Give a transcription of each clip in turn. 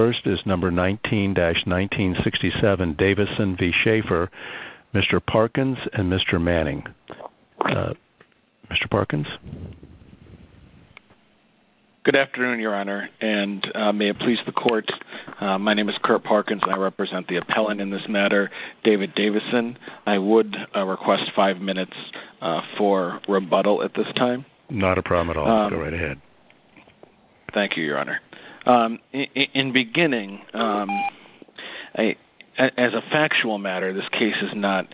first is number 19-1967 Davison v. Sheaffer, Mr. Parkins and Mr. Manning. Mr. Parkins? Good afternoon, Your Honor, and may it please the Court, my name is Kurt Parkins and I represent the appellant in this matter, David Davison. I would request five minutes for rebuttal at this time. Not a problem at all, go right ahead. Thank you, Your Honor. In beginning, as a factual matter, this case is not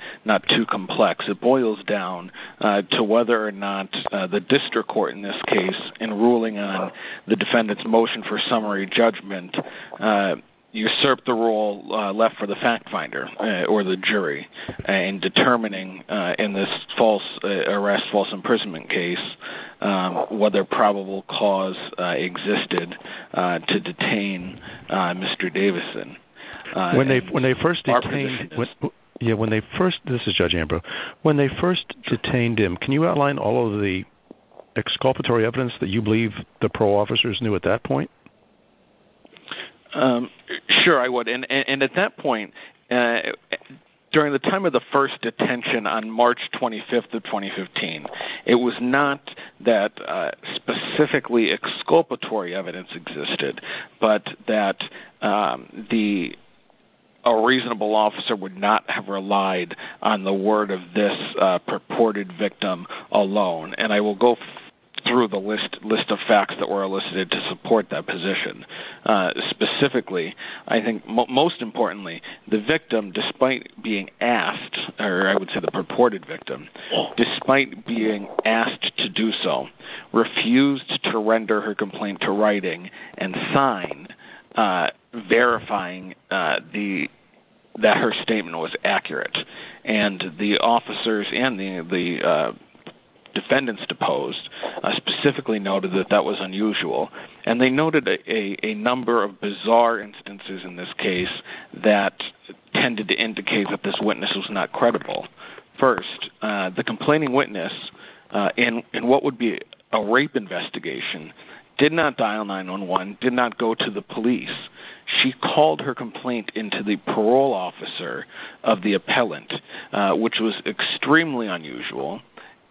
too complex. It boils down to whether or not the district court in this case, in ruling on the defendant's motion for summary judgment, usurped the role left for the fact finder or the jury in determining, in this false arrest, false imprisonment case, whether probable cause existed to detain Mr. Davison. When they first detained him, can you outline all of the exculpatory evidence that you believe the parole officers knew at that point? Sure, I would. And at that point, during the time of the first detention on March 25th of 2015, it was not that specifically exculpatory evidence existed, but that a reasonable officer would not have relied on the word of this purported victim alone. And I will go through the list of facts that were elicited to support that position. Specifically, I think most importantly, the victim, despite being asked, or I would say the purported victim, despite being asked to do so, refused to render her complaint to writing and sign, verifying that her statement was accurate. And the officers and the defendants deposed specifically noted that that was unusual. And they noted a number of bizarre instances in this case that tended to indicate that this witness was not credible. First, the complaining witness, in what would be a rape investigation, did not dial 911, did not go to the police. She called her complaint into the parole officer of the appellant, which was extremely unusual.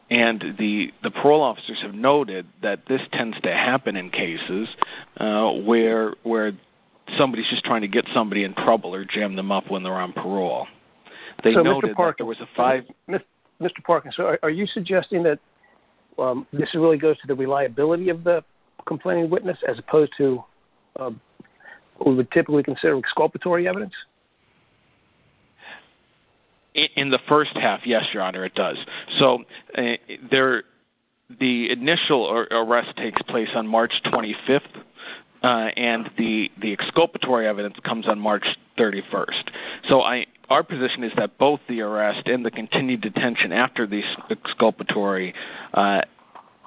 And the parole officers have noted that this tends to happen in cases where somebody's just trying to get somebody in trouble or jam them up when they're on parole. So, Mr. Parkins, are you suggesting that this really goes to the reliability of the complaining witness as opposed to what we would typically consider exculpatory evidence? In the first half, yes, Your Honor, it does. So, the initial arrest takes place on March 25th, and the exculpatory evidence comes on March 31st. So, our position is that both the arrest and the continued detention after the exculpatory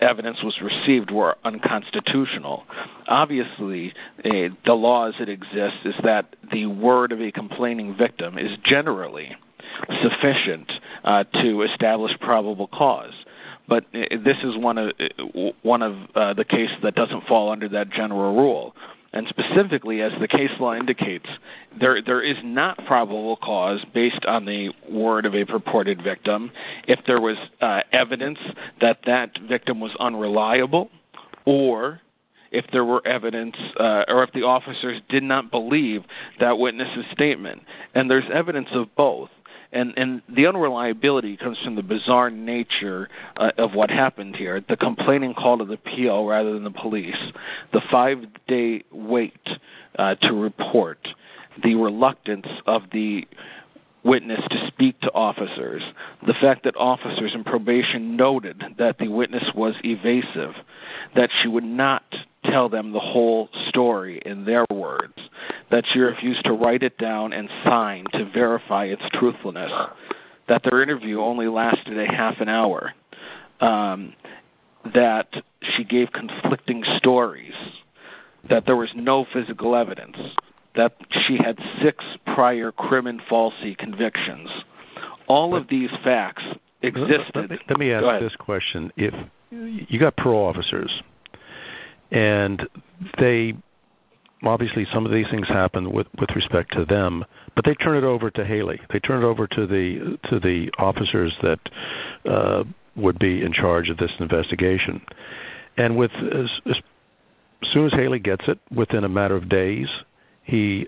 evidence was received were unconstitutional. Obviously, the laws that exist is that the word of a complaining victim is generally sufficient to establish probable cause. But this is one of the cases that doesn't fall under that general rule. And specifically, as the case law indicates, there is not probable cause based on the word of a purported victim if there was evidence that that victim was unreliable or if there were evidence or if the officers did not believe that witness's statement. And there's evidence of both. And the unreliability comes from the bizarre nature of what happened here, the complaining call to the PO rather than the police, the five-day wait to report, the reluctance of the witness to speak to officers, the fact that officers in probation noted that the witness was evasive, that she would not tell them the whole story in their words, that she refused to write it down and sign to verify its truthfulness, that their interview only lasted a half an hour, that she gave conflicting stories, that there was no physical evidence, that she had six prior crim and falsi convictions. All of these facts existed. Let me ask this question. You've got parole officers, and obviously some of these things happen with respect to them, but they turn it over to Haley. They turn it over to the officers that would be in charge of this investigation. And as soon as Haley gets it, within a matter of days, he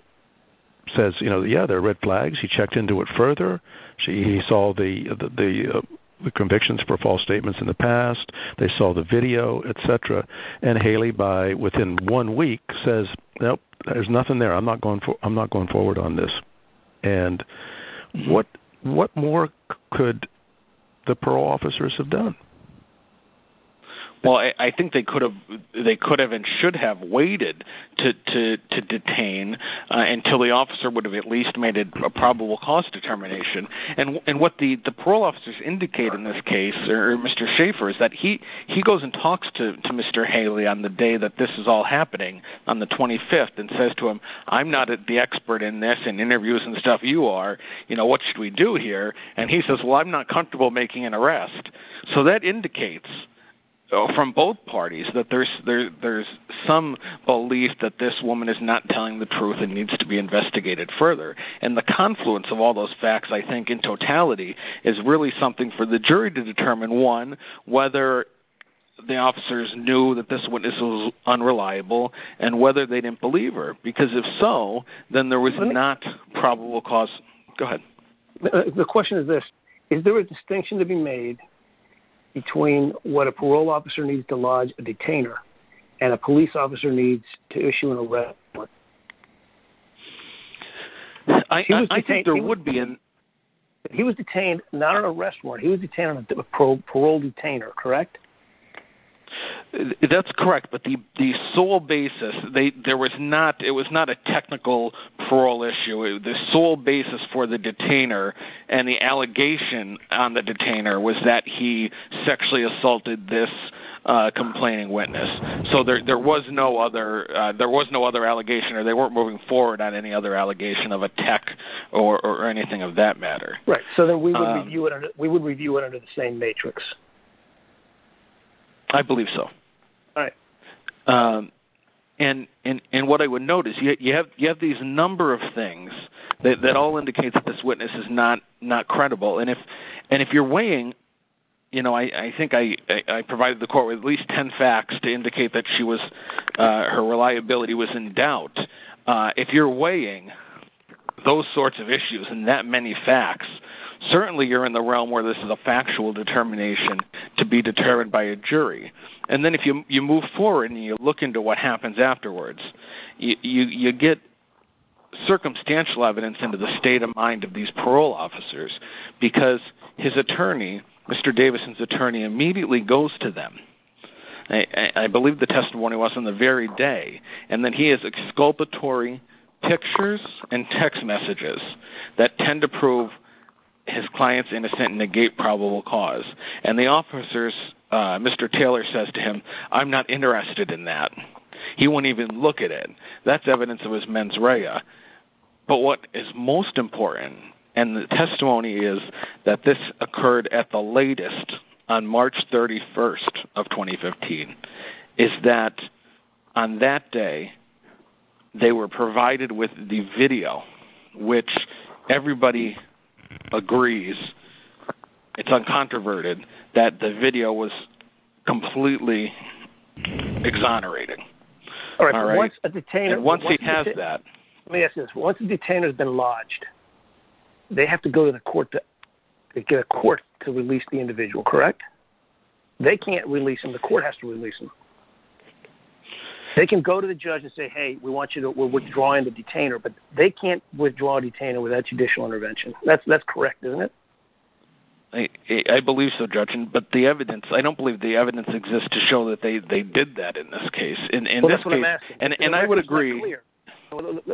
says, yeah, there are red flags. He checked into it further. He saw the convictions for false statements in the past. They saw the video, etc. And Haley, within one week, says, nope, there's nothing there. I'm not going forward on this. And what more could the parole officers have done? What should we do here? And he says, well, I'm not comfortable making an arrest. So that indicates from both parties that there's some belief that this woman is not telling the truth and needs to be investigated further. And the confluence of all those facts, I think, in totality, is really something for the jury to determine, one, whether the officers knew that this witness was unreliable, and whether they didn't believe her. Because if so, then there was not probable cause. Go ahead. The question is this. Is there a distinction to be made between what a parole officer needs to lodge a detainer and a police officer needs to issue an arrest warrant? He was detained not on an arrest warrant. He was detained on a parole detainer, correct? That's correct. But the sole basis – it was not a technical parole issue. The sole basis for the detainer and the allegation on the detainer was that he sexually assaulted this complaining witness. So there was no other allegation, or they weren't moving forward on any other allegation of attack or anything of that matter. Right. So then we would review it under the same matrix. I believe so. All right. And what I would note is you have these number of things that all indicate that this witness is not credible. And if you're weighing – I think I provided the court with at least 10 facts to indicate that her reliability was in doubt. But if you're weighing those sorts of issues and that many facts, certainly you're in the realm where this is a factual determination to be determined by a jury. And then if you move forward and you look into what happens afterwards, you get circumstantial evidence into the state of mind of these parole officers. Because his attorney, Mr. Davison's attorney, immediately goes to them. I believe the testimony was on the very day. And then he has exculpatory pictures and text messages that tend to prove his client's innocence and negate probable cause. And the officer's – Mr. Taylor says to him, I'm not interested in that. He won't even look at it. That's evidence of his mens rea. But what is most important, and the testimony is that this occurred at the latest on March 31 of 2015, is that on that day they were provided with the video, which everybody agrees – it's uncontroverted – that the video was completely exonerated. Once a detainer has been lodged, they have to go to the court to release the individual, correct? They can't release him. The court has to release him. They can go to the judge and say, hey, we're withdrawing the detainer, but they can't withdraw a detainer without judicial intervention. That's correct, isn't it? I believe so, Judge, but the evidence – I don't believe the evidence exists to show that they did that in this case. Well, that's what I'm asking. The record's not clear. And I would agree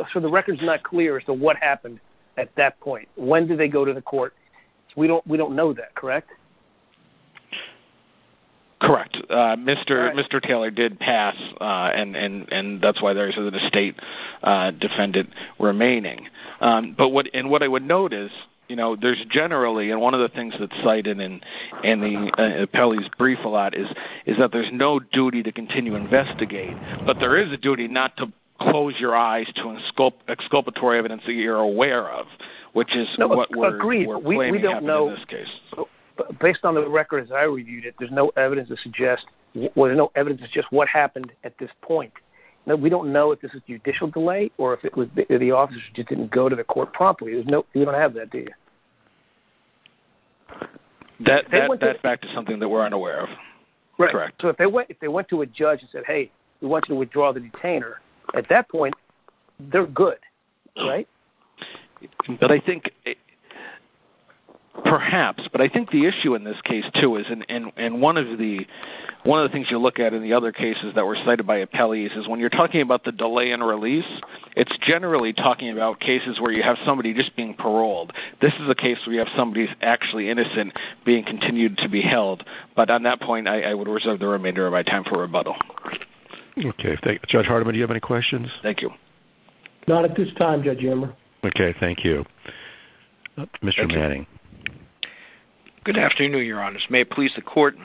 – So the record's not clear as to what happened at that point. When did they go to the court? We don't know that, correct? Correct. Mr. Taylor did pass, and that's why there isn't a state defendant remaining. And what I would note is there's generally – and one of the things that's cited in the appellee's brief a lot is that there's no duty to continue to investigate, but there is a duty not to close your eyes to exculpatory evidence that you're aware of, which is what we're claiming happened in this case. Agreed. We don't know – based on the record as I reviewed it, there's no evidence to suggest – there's no evidence to suggest what happened at this point. We don't know if this was judicial delay or if the officers just didn't go to the court promptly. We don't have that data. That's back to something that we're unaware of. Correct. So if they went to a judge and said, hey, we want you to withdraw the detainer, at that point, they're good, right? But I think – perhaps, but I think the issue in this case, too, is – and one of the things you look at in the other cases that were cited by appellees is when you're talking about the delay and release, it's generally talking about cases where you have somebody just being paroled. This is a case where you have somebody actually innocent being continued to be held, but on that point, I would reserve the remainder of my time for rebuttal. Okay, thank you. Judge Hardiman, do you have any questions? Thank you. Not at this time, Judge Emmer. Okay, thank you. Mr. Manning. Good afternoon, Your Honors. May it please the Court,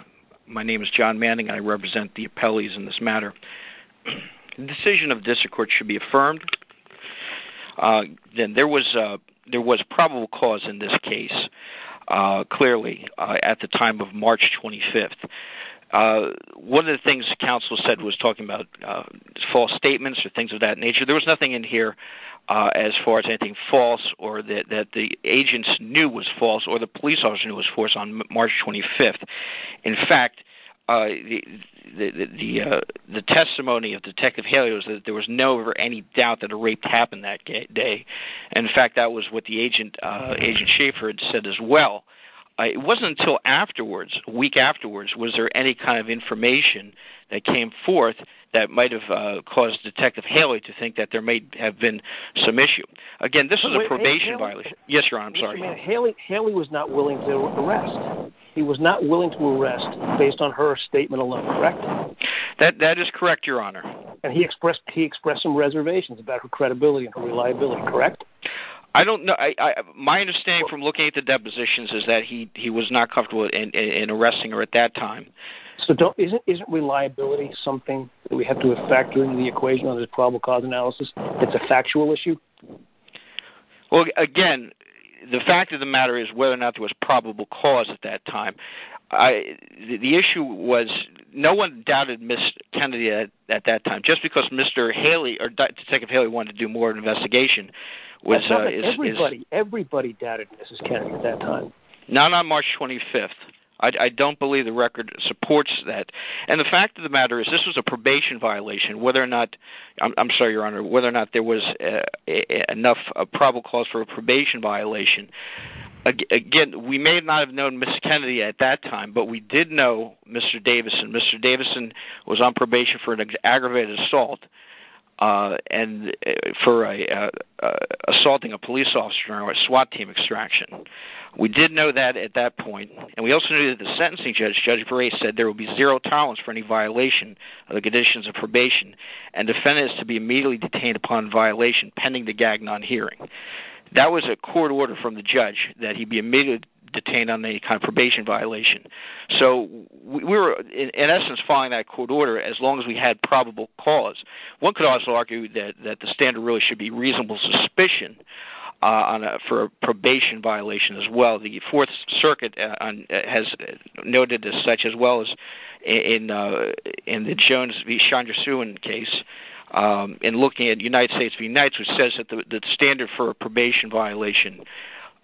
my name is John Manning. I represent the appellees in this matter. The decision of this court should be affirmed that there was probable cause in this case, clearly, at the time of March 25th. One of the things the counsel said was talking about false statements or things of that nature. There was nothing in here as far as anything false or that the agents knew was false or the police officer knew was false on March 25th. In fact, the testimony of Detective Haley was that there was no, ever, any doubt that a rape happened that day. In fact, that was what the agent, Agent Schafer, had said as well. It wasn't until afterwards, a week afterwards, was there any kind of information that came forth that might have caused Detective Haley to think that there may have been some issue. Again, this was a probation violation. Wait a minute. Haley was not willing to arrest. He was not willing to arrest based on her statement alone, correct? That is correct, Your Honor. And he expressed some reservations about her credibility and her reliability, correct? I don't know. My understanding from looking at the depositions is that he was not comfortable in arresting her at that time. So isn't reliability something that we have to factor into the equation of the probable cause analysis? It's a factual issue? Well, again, the fact of the matter is whether or not there was probable cause at that time. The issue was no one doubted Ms. Kennedy at that time, just because Mr. Haley, or Detective Haley, wanted to do more investigation. Everybody doubted Mrs. Kennedy at that time. Not on March 25th. I don't believe the record supports that. And the fact of the matter is this was a probation violation. Whether or not, I'm sorry, Your Honor, whether or not there was enough probable cause for a probation violation. Again, we may not have known Mrs. Kennedy at that time, but we did know Mr. Davison. Mr. Davison was on probation for an aggravated assault and for assaulting a police officer during a SWAT team extraction. We did know that at that point. And we also knew that the sentencing judge, Judge Gray, said there would be zero tolerance for any violation of the conditions of probation. And the defendant is to be immediately detained upon violation pending the Gagnon hearing. That was a court order from the judge, that he be immediately detained on any kind of probation violation. So we were, in essence, following that court order as long as we had probable cause. One could also argue that the standard really should be reasonable suspicion for a probation violation as well. The Fourth Circuit has noted this as such, as well as in the Jones v. Chandra Suen case. In looking at United States v. Knights, which says that the standard for a probation violation,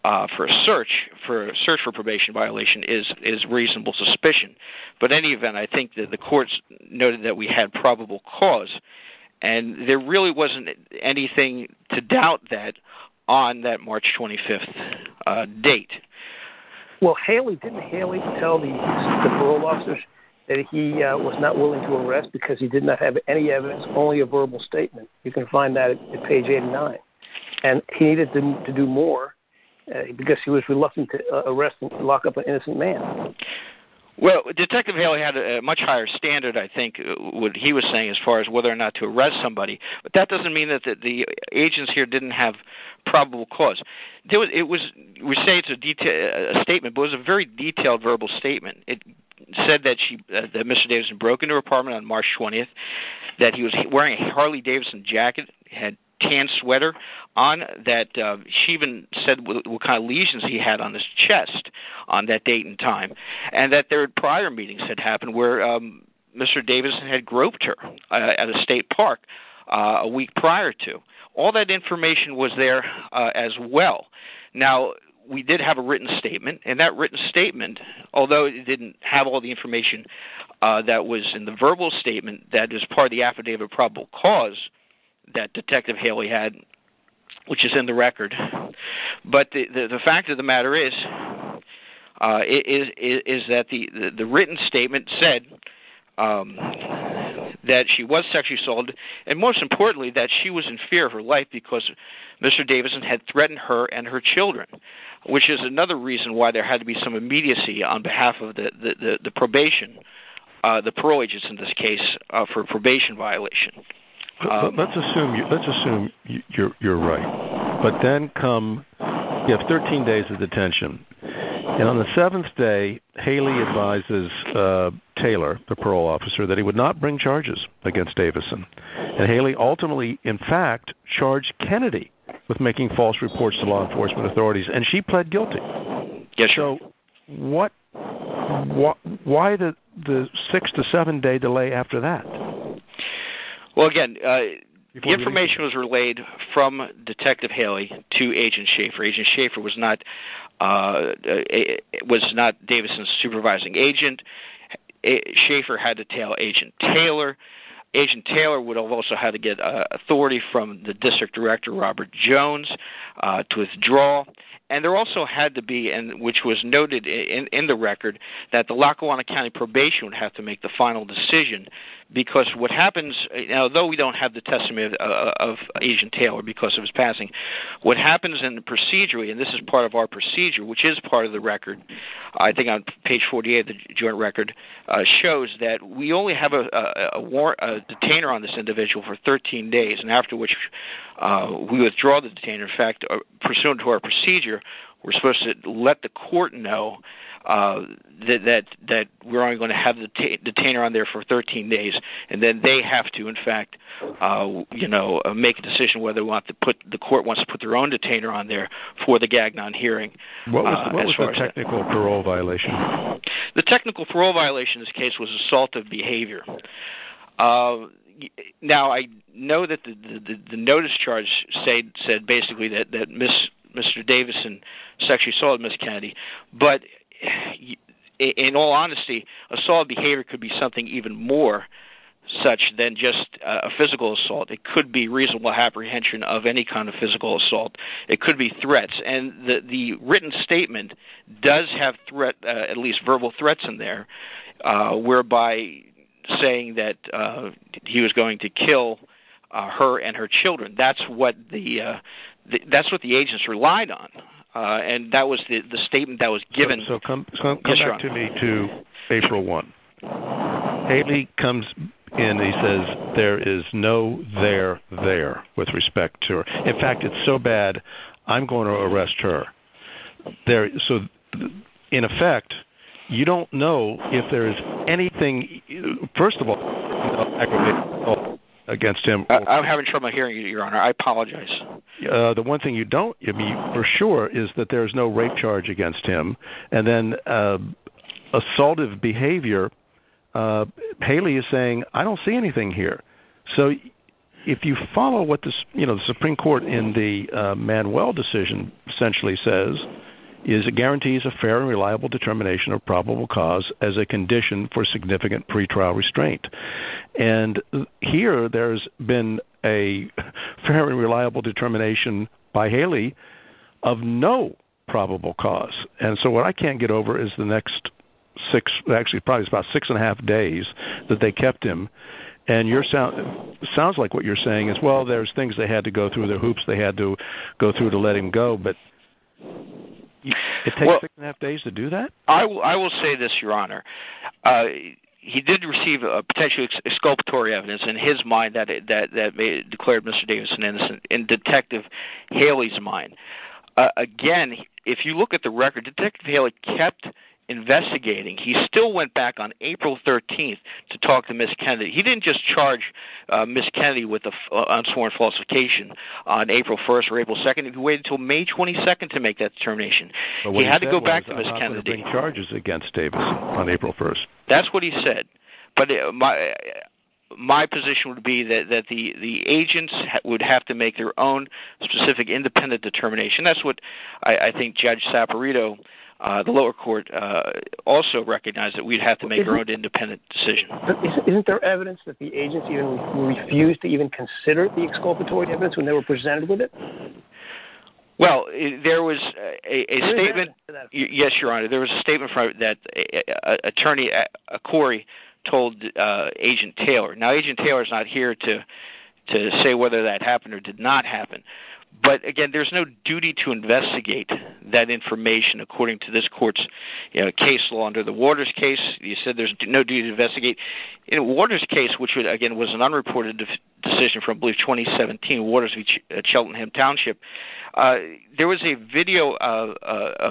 for a search for a probation violation, is reasonable suspicion. But in any event, I think that the courts noted that we had probable cause. And there really wasn't anything to doubt that on that March 25th date. Well, didn't Haley tell the parole officers that he was not willing to arrest because he did not have any evidence, only a verbal statement? You can find that at page 89. And he needed to do more because he was reluctant to arrest and lock up an innocent man. Well, Detective Haley had a much higher standard, I think, what he was saying as far as whether or not to arrest somebody. But that doesn't mean that the agents here didn't have probable cause. We say it's a statement, but it was a very detailed verbal statement. It said that Mr. Davidson broke into her apartment on March 20th, that he was wearing a Harley-Davidson jacket, had a tan sweater on, that she even said what kind of lesions he had on his chest on that date and time, and that there were prior meetings that happened where Mr. Davidson had groped her at a state park a week prior to. All that information was there as well. Now, we did have a written statement, and that written statement, although it didn't have all the information that was in the verbal statement that is part of the affidavit of probable cause that Detective Haley had, which is in the record. But the fact of the matter is that the written statement said that she was sexually assaulted, and most importantly, that she was in fear of her life because Mr. Davidson had threatened her and her children, which is another reason why there had to be some immediacy on behalf of the probation, the parole agents in this case, for probation violation. Let's assume you're right, but then come, you have 13 days of detention, and on the 7th day, Haley advises Taylor, the parole officer, that he would not bring charges against Davidson. And Haley ultimately, in fact, charged Kennedy with making false reports to law enforcement authorities, and she pled guilty. Yes, sir. So, why the 6-7 day delay after that? Well, again, the information was relayed from Detective Haley to Agent Schaefer. Agent Schaefer was not Davidson's supervising agent. Schaefer had to tell Agent Taylor. Agent Taylor would also have to get authority from the district director, Robert Jones, to withdraw. And there also had to be, which was noted in the record, that the Lackawanna County Probation would have to make the final decision because what happens, although we don't have the testament of Agent Taylor because of his passing, what happens in the procedure, and this is part of our procedure, which is part of the record, I think on page 48 of the joint record, shows that we only have a detainer on this individual for 13 days, and after which we withdraw the detainer. In fact, pursuant to our procedure, we're supposed to let the court know that we're only going to have the detainer on there for 13 days, and then they have to, in fact, make a decision whether the court wants to put their own detainer on there for the Gagnon hearing. What was the technical parole violation? The technical parole violation in this case was assault of behavior. Now, I know that the notice charge said basically that Mr. Davison sexually assaulted Ms. Kennedy, but in all honesty, assault of behavior could be something even more such than just a physical assault. It could be reasonable apprehension of any kind of physical assault. It could be threats, and the written statement does have at least verbal threats in there, whereby saying that he was going to kill her and her children. That's what the agents relied on, and that was the statement that was given. So come back to me to April 1. Amy comes in and he says, there is no there there with respect to her. In fact, it's so bad, I'm going to arrest her. So in effect, you don't know if there is anything, first of all, against him. I'm having trouble hearing you, Your Honor. I apologize. The one thing you don't know for sure is that there is no rape charge against him. And then assault of behavior, Haley is saying, I don't see anything here. So if you follow what the Supreme Court in the Manuel decision essentially says, is it guarantees a fair and reliable determination of probable cause as a condition for significant pretrial restraint. And here there's been a very reliable determination by Haley of no probable cause. And so what I can't get over is the next six, actually probably about six and a half days that they kept him. And it sounds like what you're saying is, well, there's things they had to go through, the hoops they had to go through to let him go, but it takes six and a half days to do that? I will say this, Your Honor. He did receive potentially exculpatory evidence in his mind that declared Mr. Davidson innocent, in Detective Haley's mind. Again, if you look at the record, Detective Haley kept investigating. He still went back on April 13th to talk to Ms. Kennedy. He didn't just charge Ms. Kennedy with unsworn falsification on April 1st or April 2nd. He waited until May 22nd to make that determination. He had to go back to Ms. Kennedy. But what he said was there's often been charges against Davis on April 1st. That's what he said. But my position would be that the agents would have to make their own specific independent determination. That's what I think Judge Saperito, the lower court, also recognized, that we'd have to make our own independent decision. Isn't there evidence that the agents refused to even consider the exculpatory evidence when they were presented with it? Well, there was a statement. Yes, Your Honor. There was a statement that Attorney Corey told Agent Taylor. Now, Agent Taylor is not here to say whether that happened or did not happen. But, again, there's no duty to investigate that information according to this court's case law under the Waters case. You said there's no duty to investigate. In Waters' case, which, again, was an unreported decision from, I believe, 2017, Waters v. Cheltenham Township, there was a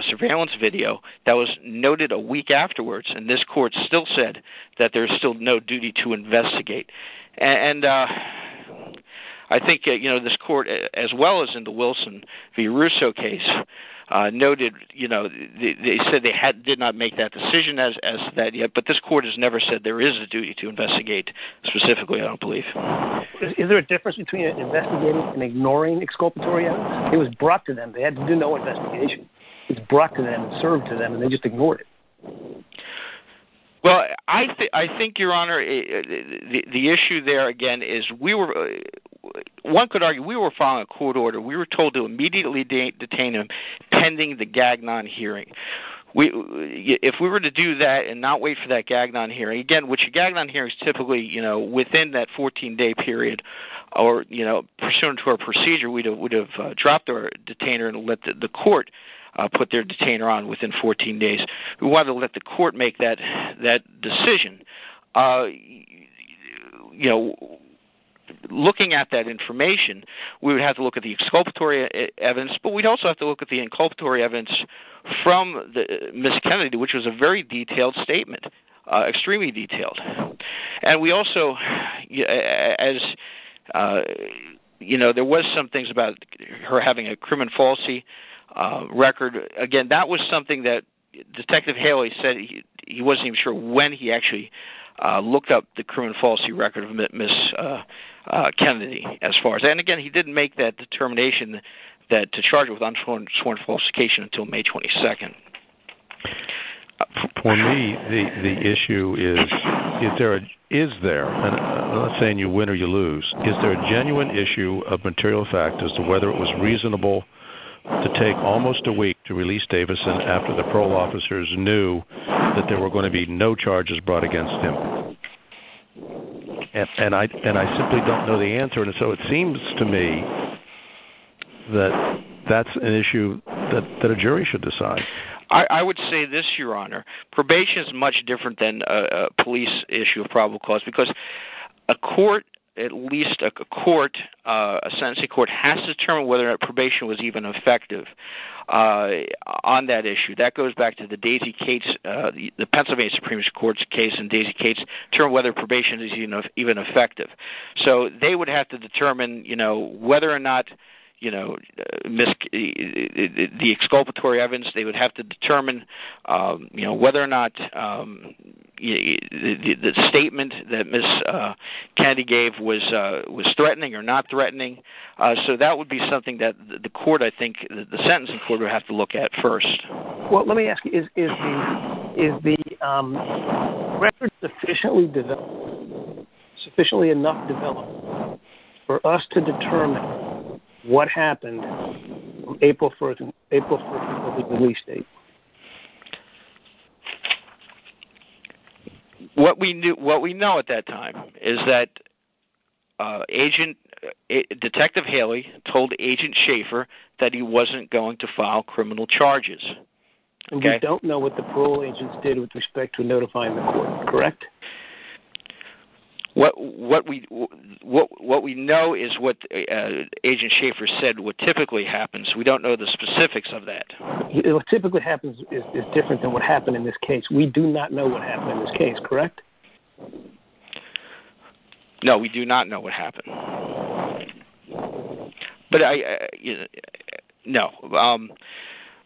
surveillance video that was noted a week afterwards. And this court still said that there's still no duty to investigate. And I think this court, as well as in the Wilson v. Russo case, noted they said they did not make that decision as of yet, but this court has never said there is a duty to investigate specifically, I don't believe. Is there a difference between investigating and ignoring exculpatory evidence? It was brought to them. They had to do no investigation. It was brought to them, served to them, and they just ignored it. Well, I think, Your Honor, the issue there, again, is we were—one could argue we were following a court order. We were told to immediately detain him pending the Gagnon hearing. If we were to do that and not wait for that Gagnon hearing, again, which a Gagnon hearing is typically, you know, within that 14-day period or, you know, pursuant to our procedure, we would have dropped the detainer and let the court put their detainer on within 14 days. We wanted to let the court make that decision. You know, looking at that information, we would have to look at the exculpatory evidence, but we'd also have to look at the inculpatory evidence from Ms. Kennedy, which was a very detailed statement, extremely detailed. And we also—as, you know, there was some things about her having a criminal falsity record. Again, that was something that Detective Haley said he wasn't even sure when he actually looked up the criminal falsity record of Ms. Kennedy. And, again, he didn't make that determination to charge her with unsworn falsification until May 22nd. For me, the issue is, is there—I'm not saying you win or you lose. Is there a genuine issue of material fact as to whether it was reasonable to take almost a week to release Davison after the parole officers knew that there were going to be no charges brought against him? And I simply don't know the answer, and so it seems to me that that's an issue that a jury should decide. I would say this, Your Honor. Probation is much different than a police issue of probable cause because a court, at least a court, a sentencing court, has to determine whether a probation was even effective on that issue. That goes back to the Daisy Cates—the Pennsylvania Supreme Court's case in Daisy Cates to determine whether probation is even effective. So they would have to determine, you know, whether or not, you know, the exculpatory evidence— you know, whether or not the statement that Ms. Kennedy gave was threatening or not threatening. So that would be something that the court, I think, the sentencing court would have to look at first. Well, let me ask you, is the record sufficiently developed, sufficiently enough developed, for us to determine what happened April 1st of the release date? What we know at that time is that Agent—Detective Haley told Agent Schaefer that he wasn't going to file criminal charges. And you don't know what the parole agents did with respect to notifying the court, correct? What we know is what Agent Schaefer said would typically happen, so we don't know the specifics of that. What typically happens is different than what happened in this case. We do not know what happened in this case, correct? No, we do not know what happened. But I—no,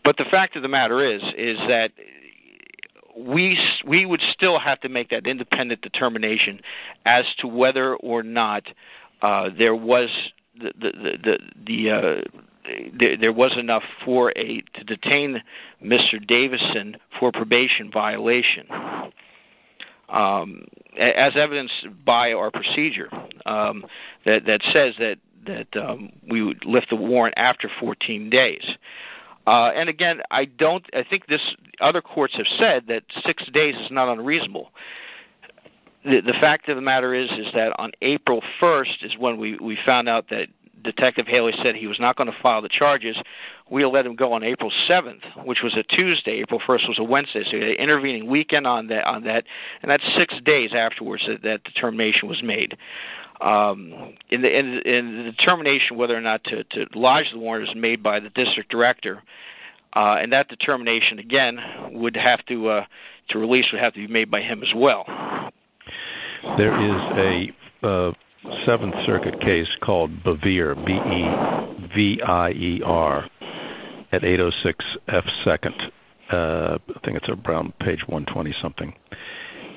but the fact of the matter is, is that we would still have to make that independent determination as to whether or not there was enough for a—to detain Mr. Davison for probation violation. As evidenced by our procedure that says that we would lift the warrant after 14 days. And again, I don't—I think this—other courts have said that six days is not unreasonable. The fact of the matter is, is that on April 1st is when we found out that Detective Haley said he was not going to file the charges. We let him go on April 7th, which was a Tuesday. April 1st was a Wednesday, so he had an intervening weekend on that. And that's six days afterwards that that determination was made. And the determination whether or not to lodge the warrant is made by the district director. And that determination, again, would have to—to release—would have to be made by him as well. There is a Seventh Circuit case called Bevere, B-E-V-I-E-R, at 806 F. Second. I think it's around page 120-something.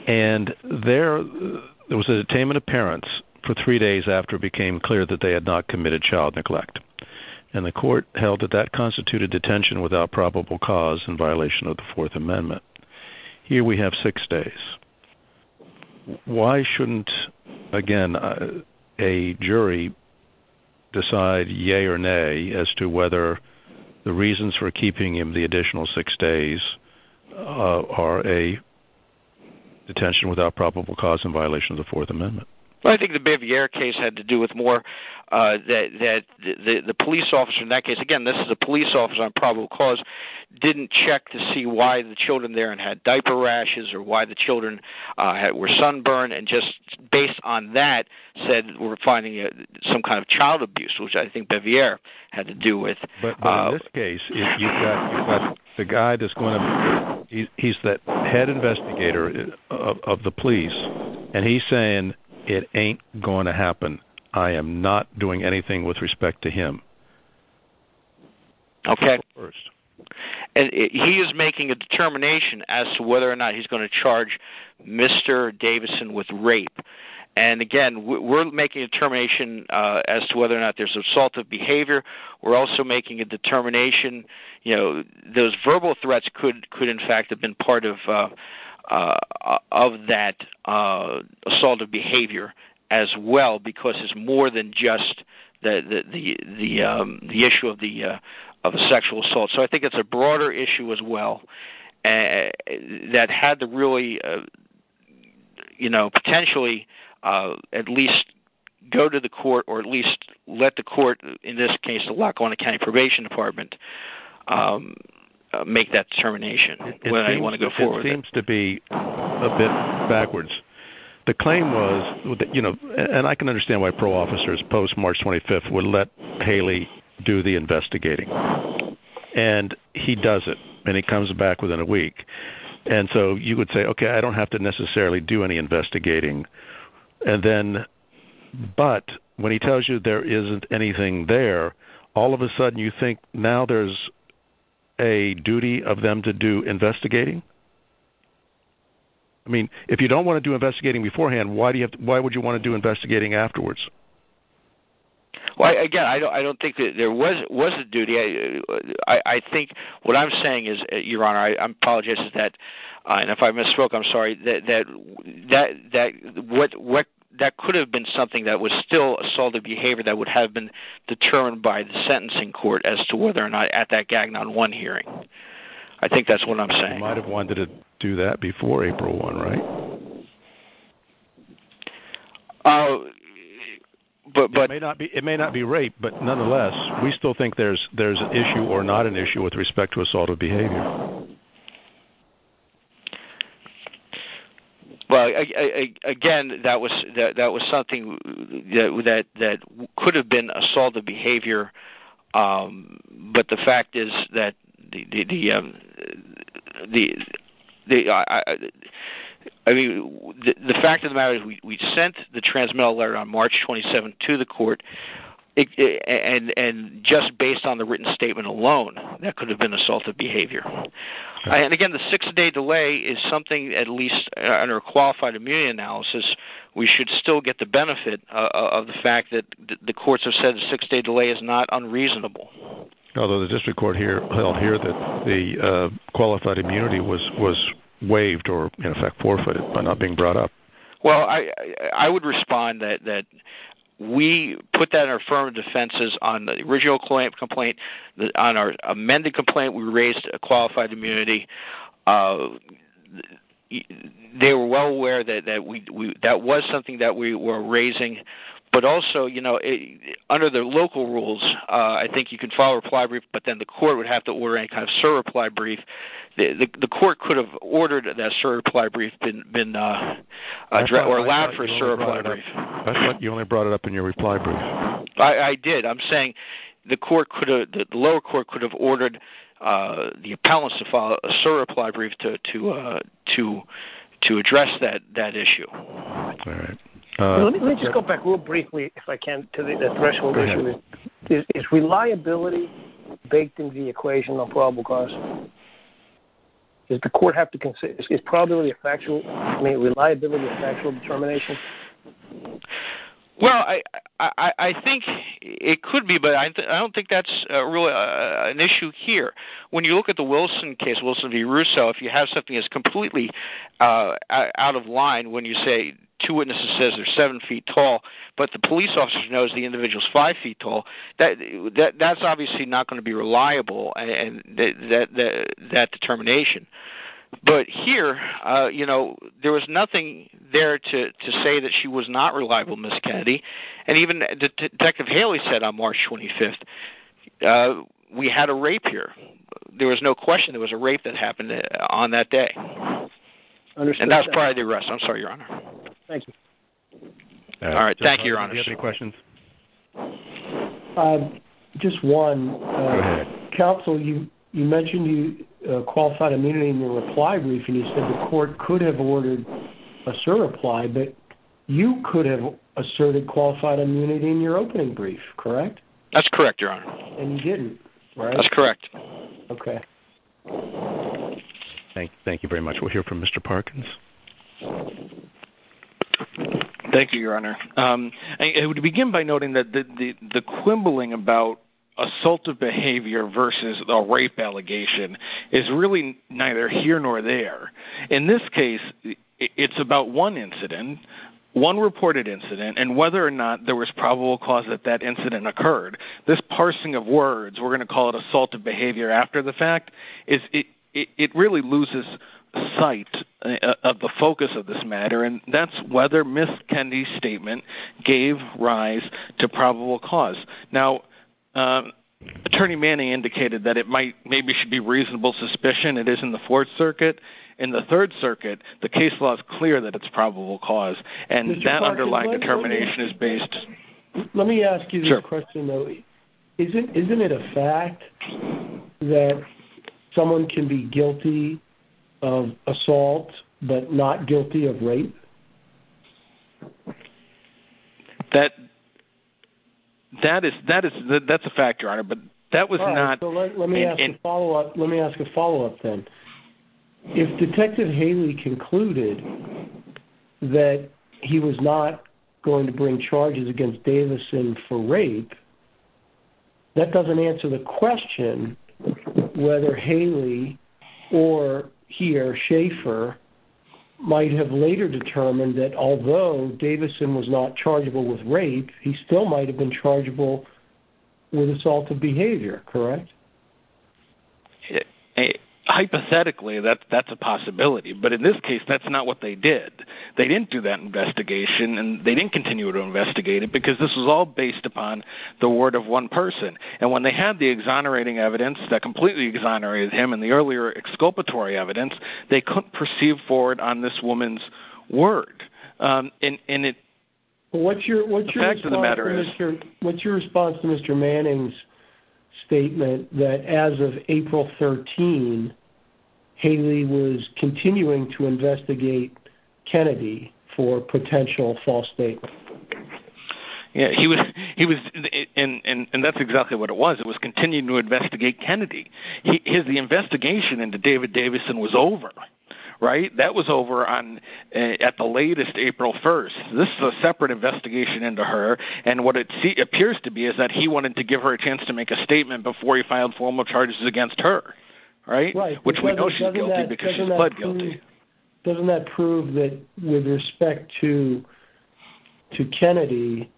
And there was a detainment of parents for three days after it became clear that they had not committed child neglect. And the court held that that constituted detention without probable cause in violation of the Fourth Amendment. Here we have six days. Why shouldn't, again, a jury decide yea or nay as to whether the reasons for keeping him the additional six days are a detention without probable cause in violation of the Fourth Amendment? Well, I think the Bevere case had to do with more that the police officer in that case—again, this is a police officer on probable cause— didn't check to see why the children there had diaper rashes or why the children were sunburned. And just based on that said we're finding some kind of child abuse, which I think Bevere had to do with. But in this case, the guy that's going to—he's the head investigator of the police, and he's saying it ain't going to happen. I am not doing anything with respect to him. Okay. First. And he is making a determination as to whether or not he's going to charge Mr. Davison with rape. And again, we're making a determination as to whether or not there's assaultive behavior. We're also making a determination—those verbal threats could in fact have been part of that assaultive behavior as well, because it's more than just the issue of the sexual assault. So I think it's a broader issue as well that had to really potentially at least go to the court or at least let the court, in this case the Lackawanna County Probation Department, make that determination. It seems to be a bit backwards. The claim was—and I can understand why pro-officers post-March 25th would let Haley do the investigating. And he does it, and he comes back within a week. And so you would say, okay, I don't have to necessarily do any investigating. But when he tells you there isn't anything there, all of a sudden you think now there's a duty of them to do investigating? I mean, if you don't want to do investigating beforehand, why would you want to do investigating afterwards? Well, again, I don't think there was a duty. I think what I'm saying is, Your Honor, I apologize if I misspoke. I'm sorry. That could have been something that was still assaultive behavior that would have been determined by the sentencing court as to whether or not at that Gagnon 1 hearing. I think that's what I'm saying. You might have wanted to do that before April 1, right? It may not be rape, but nonetheless, we still think there's an issue or not an issue with respect to assaultive behavior. Well, again, that was something that could have been assaultive behavior. But the fact is that the fact of the matter is we sent the transmittal letter on March 27 to the court. And just based on the written statement alone, that could have been assaultive behavior. And again, the six-day delay is something, at least under a qualified immunity analysis, we should still get the benefit of the fact that the courts have said the six-day delay is not unreasonable. Although the district court held here that the qualified immunity was waived or, in effect, forfeited by not being brought up. Well, I would respond that we put that in our firm of defenses on the original complaint. On our amended complaint, we raised qualified immunity. They were well aware that that was something that we were raising. But also, under the local rules, I think you can file a reply brief, but then the court would have to order any kind of surreply brief. The court could have ordered that surreply brief or allowed for a surreply brief. You only brought it up in your reply brief. I did. I'm saying the lower court could have ordered the appellants to file a surreply brief to address that issue. All right. Let me just go back real briefly, if I can, to the threshold issue. Is reliability baked into the equation on probable cause? Does the court have to – is probability a factual – I mean, reliability a factual determination? Well, I think it could be, but I don't think that's really an issue here. When you look at the Wilson case, Wilson v. Russo, if you have something that's completely out of line, when you say two witnesses say they're seven feet tall, but the police officer knows the individual's five feet tall, that's obviously not going to be reliable, that determination. But here, you know, there was nothing there to say that she was not reliable, Ms. Kennedy. And even Detective Haley said on March 25th, we had a rape here. There was no question there was a rape that happened on that day. And that was prior to the arrest. I'm sorry, Your Honor. Thank you. All right. Thank you, Your Honor. Do you have any questions? Just one. Go ahead. Counsel, you mentioned you qualified immunity in your reply brief, and you said the court could have ordered a surreply, but you could have asserted qualified immunity in your opening brief, correct? That's correct, Your Honor. And you didn't, right? That's correct. Okay. Thank you very much. We'll hear from Mr. Parkins. Thank you, Your Honor. I would begin by noting that the quibbling about assaultive behavior versus a rape allegation is really neither here nor there. In this case, it's about one incident, one reported incident, and whether or not there was probable cause that that incident occurred. This parsing of words, we're going to call it assaultive behavior after the fact, it really loses sight of the focus of this matter, and that's whether Ms. Kendi's statement gave rise to probable cause. Now, Attorney Manning indicated that it maybe should be reasonable suspicion. It is in the Fourth Circuit. In the Third Circuit, the case law is clear that it's probable cause, and that underlying determination is based. Let me ask you this question, though. Sure. Isn't it a fact that someone can be guilty of assault but not guilty of rape? That's a fact, Your Honor, but that was not... Let me ask a follow-up then. If Detective Haley concluded that he was not going to bring charges against Davison for rape, that doesn't answer the question whether Haley or he or Schaefer might have later determined that although Davison was not chargeable with rape, he still might have been chargeable with assaultive behavior, correct? Hypothetically, that's a possibility, but in this case, that's not what they did. They didn't do that investigation, and they didn't continue to investigate it because this was all based upon the word of one person. And when they had the exonerating evidence that completely exonerated him and the earlier exculpatory evidence, they couldn't proceed forward on this woman's word. The fact of the matter is... What's your response to Mr. Manning's statement that as of April 13, Haley was continuing to investigate Kennedy for potential false statements? He was, and that's exactly what it was. It was continuing to investigate Kennedy. The investigation into David Davison was over, right? That was over at the latest, April 1. This is a separate investigation into her, and what it appears to be is that he wanted to give her a chance to make a statement before he filed formal charges against her. Right? Right. Which we know she's guilty because she's pled guilty. Doesn't that prove that with respect to Kennedy,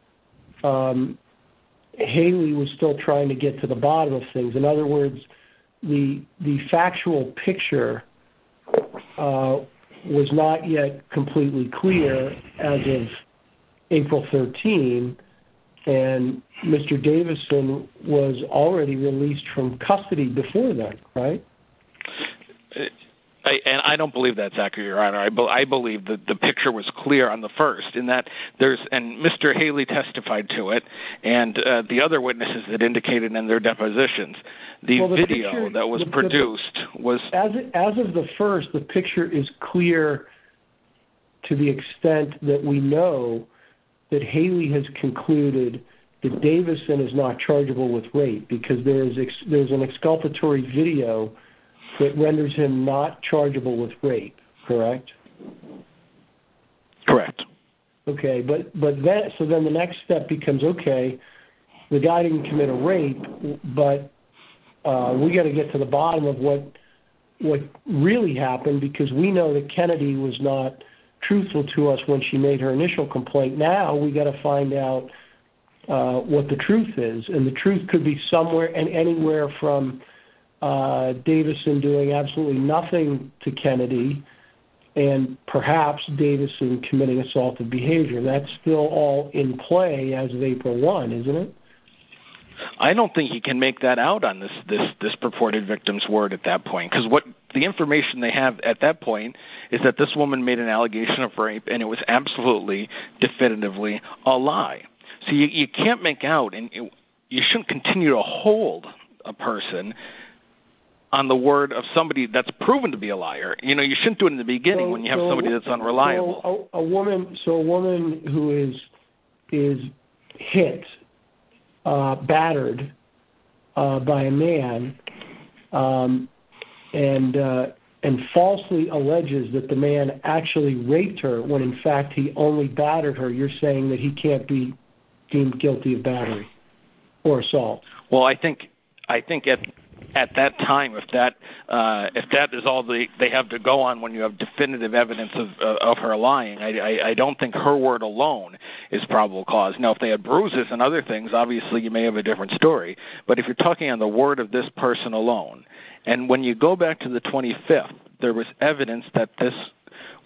Haley was still trying to get to the bottom of things? In other words, the factual picture was not yet completely clear as of April 13, and Mr. Davison was already released from custody before that, right? I don't believe that, Zachary, Your Honor. I believe that the picture was clear on the 1st, and Mr. Haley testified to it, and the other witnesses that indicated in their depositions. The video that was produced was... As of the 1st, the picture is clear to the extent that we know that Haley has concluded that Davison is not chargeable with rape because there's an exculpatory video that renders him not chargeable with rape. Correct? Correct. Okay. So then the next step becomes, okay, the guy didn't commit a rape, but we've got to get to the bottom of what really happened because we know that Kennedy was not truthful to us when she made her initial complaint. Now we've got to find out what the truth is, and the truth could be somewhere and anywhere from Davison doing absolutely nothing to Kennedy and perhaps Davison committing assaultive behavior. That's still all in play as of April 1, isn't it? I don't think you can make that out on this purported victim's word at that point because the information they have at that point is that this woman made an allegation of rape and it was absolutely definitively a lie. So you can't make out and you shouldn't continue to hold a person on the word of somebody that's proven to be a liar. You know, you shouldn't do it in the beginning when you have somebody that's unreliable. So a woman who is hit, battered by a man, and falsely alleges that the man actually raped her when in fact he only battered her, you're saying that he can't be deemed guilty of battery or assault. Well, I think at that time, if that is all they have to go on when you have definitive evidence of her lying, I don't think her word alone is probable cause. Now if they had bruises and other things, obviously you may have a different story, but if you're talking on the word of this person alone, and when you go back to the 25th, there was evidence that this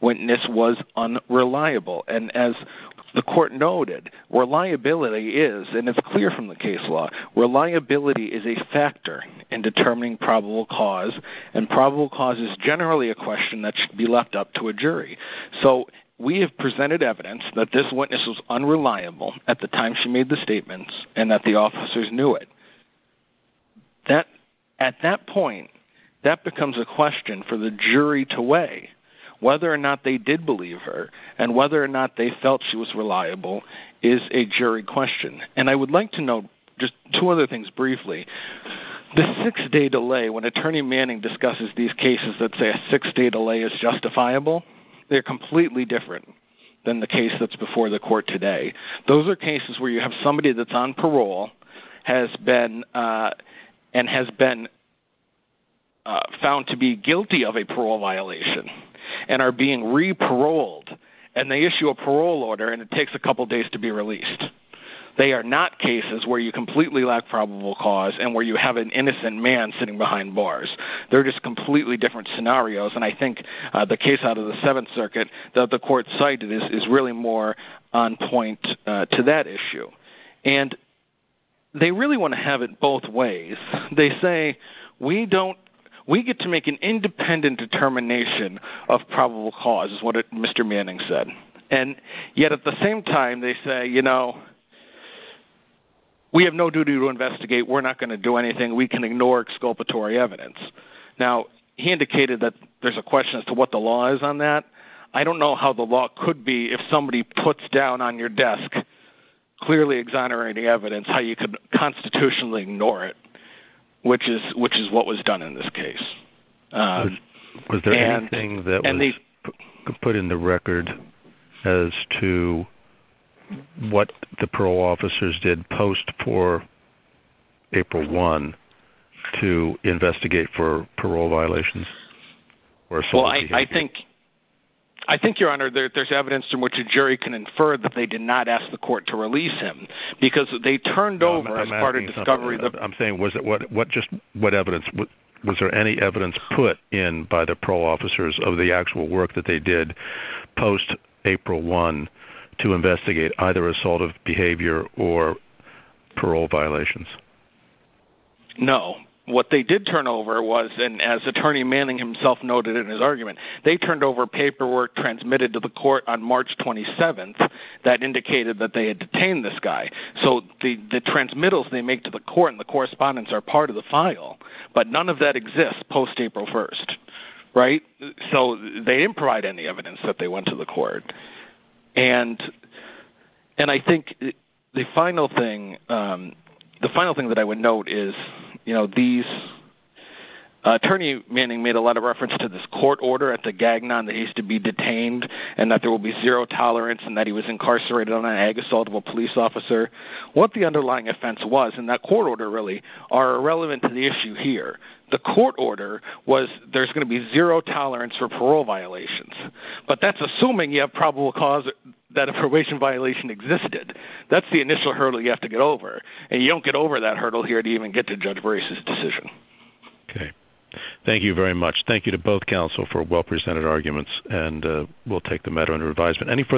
witness was unreliable, and as the court noted, reliability is, and it's clear from the case law, reliability is a factor in determining probable cause, and probable cause is generally a question that should be left up to a jury. So we have presented evidence that this witness was unreliable at the time she made the statements, and that the officers knew it. At that point, that becomes a question for the jury to weigh. Whether or not they did believe her, and whether or not they felt she was reliable, is a jury question. And I would like to note just two other things briefly. The six-day delay, when Attorney Manning discusses these cases that say a six-day delay is justifiable, they're completely different than the case that's before the court today. Those are cases where you have somebody that's on parole and has been found to be guilty of a parole violation and are being re-paroled, and they issue a parole order and it takes a couple days to be released. They are not cases where you completely lack probable cause and where you have an innocent man sitting behind bars. They're just completely different scenarios, and I think the case out of the Seventh Circuit that the court cited is really more on point to that issue. And they really want to have it both ways. They say, we get to make an independent determination of probable cause, is what Mr. Manning said, and yet at the same time they say, you know, we have no duty to investigate. We're not going to do anything. We can ignore exculpatory evidence. Now, he indicated that there's a question as to what the law is on that. I don't know how the law could be if somebody puts down on your desk clearly exonerating evidence, how you could constitutionally ignore it, which is what was done in this case. Was there anything that was put in the record as to what the parole officers did post for April 1 to investigate for parole violations? Well, I think, Your Honor, there's evidence in which a jury can infer that they did not ask the court to release him because they turned over as part of discovery. I'm saying was there any evidence put in by the parole officers of the actual work that they did post April 1 to investigate either assaultive behavior or parole violations? No. What they did turn over was, and as Attorney Manning himself noted in his argument, they turned over paperwork transmitted to the court on March 27 that indicated that they had detained this guy. So the transmittals they make to the court and the correspondence are part of the file, but none of that exists post April 1, right? So they didn't provide any evidence that they went to the court. And I think the final thing that I would note is, you know, Attorney Manning made a lot of reference to this court order at the Gagnon that he used to be detained and that there will be zero tolerance and that he was incarcerated on an ag-assaultable police officer. What the underlying offense was in that court order, really, are irrelevant to the issue here. The court order was there's going to be zero tolerance for parole violations, but that's assuming you have probable cause that a probation violation existed. That's the initial hurdle you have to get over, and you don't get over that hurdle here to even get to judge Brace's decision. Okay. Thank you very much. Thank you to both counsel for well-presented arguments, and we'll take the matter under advisement.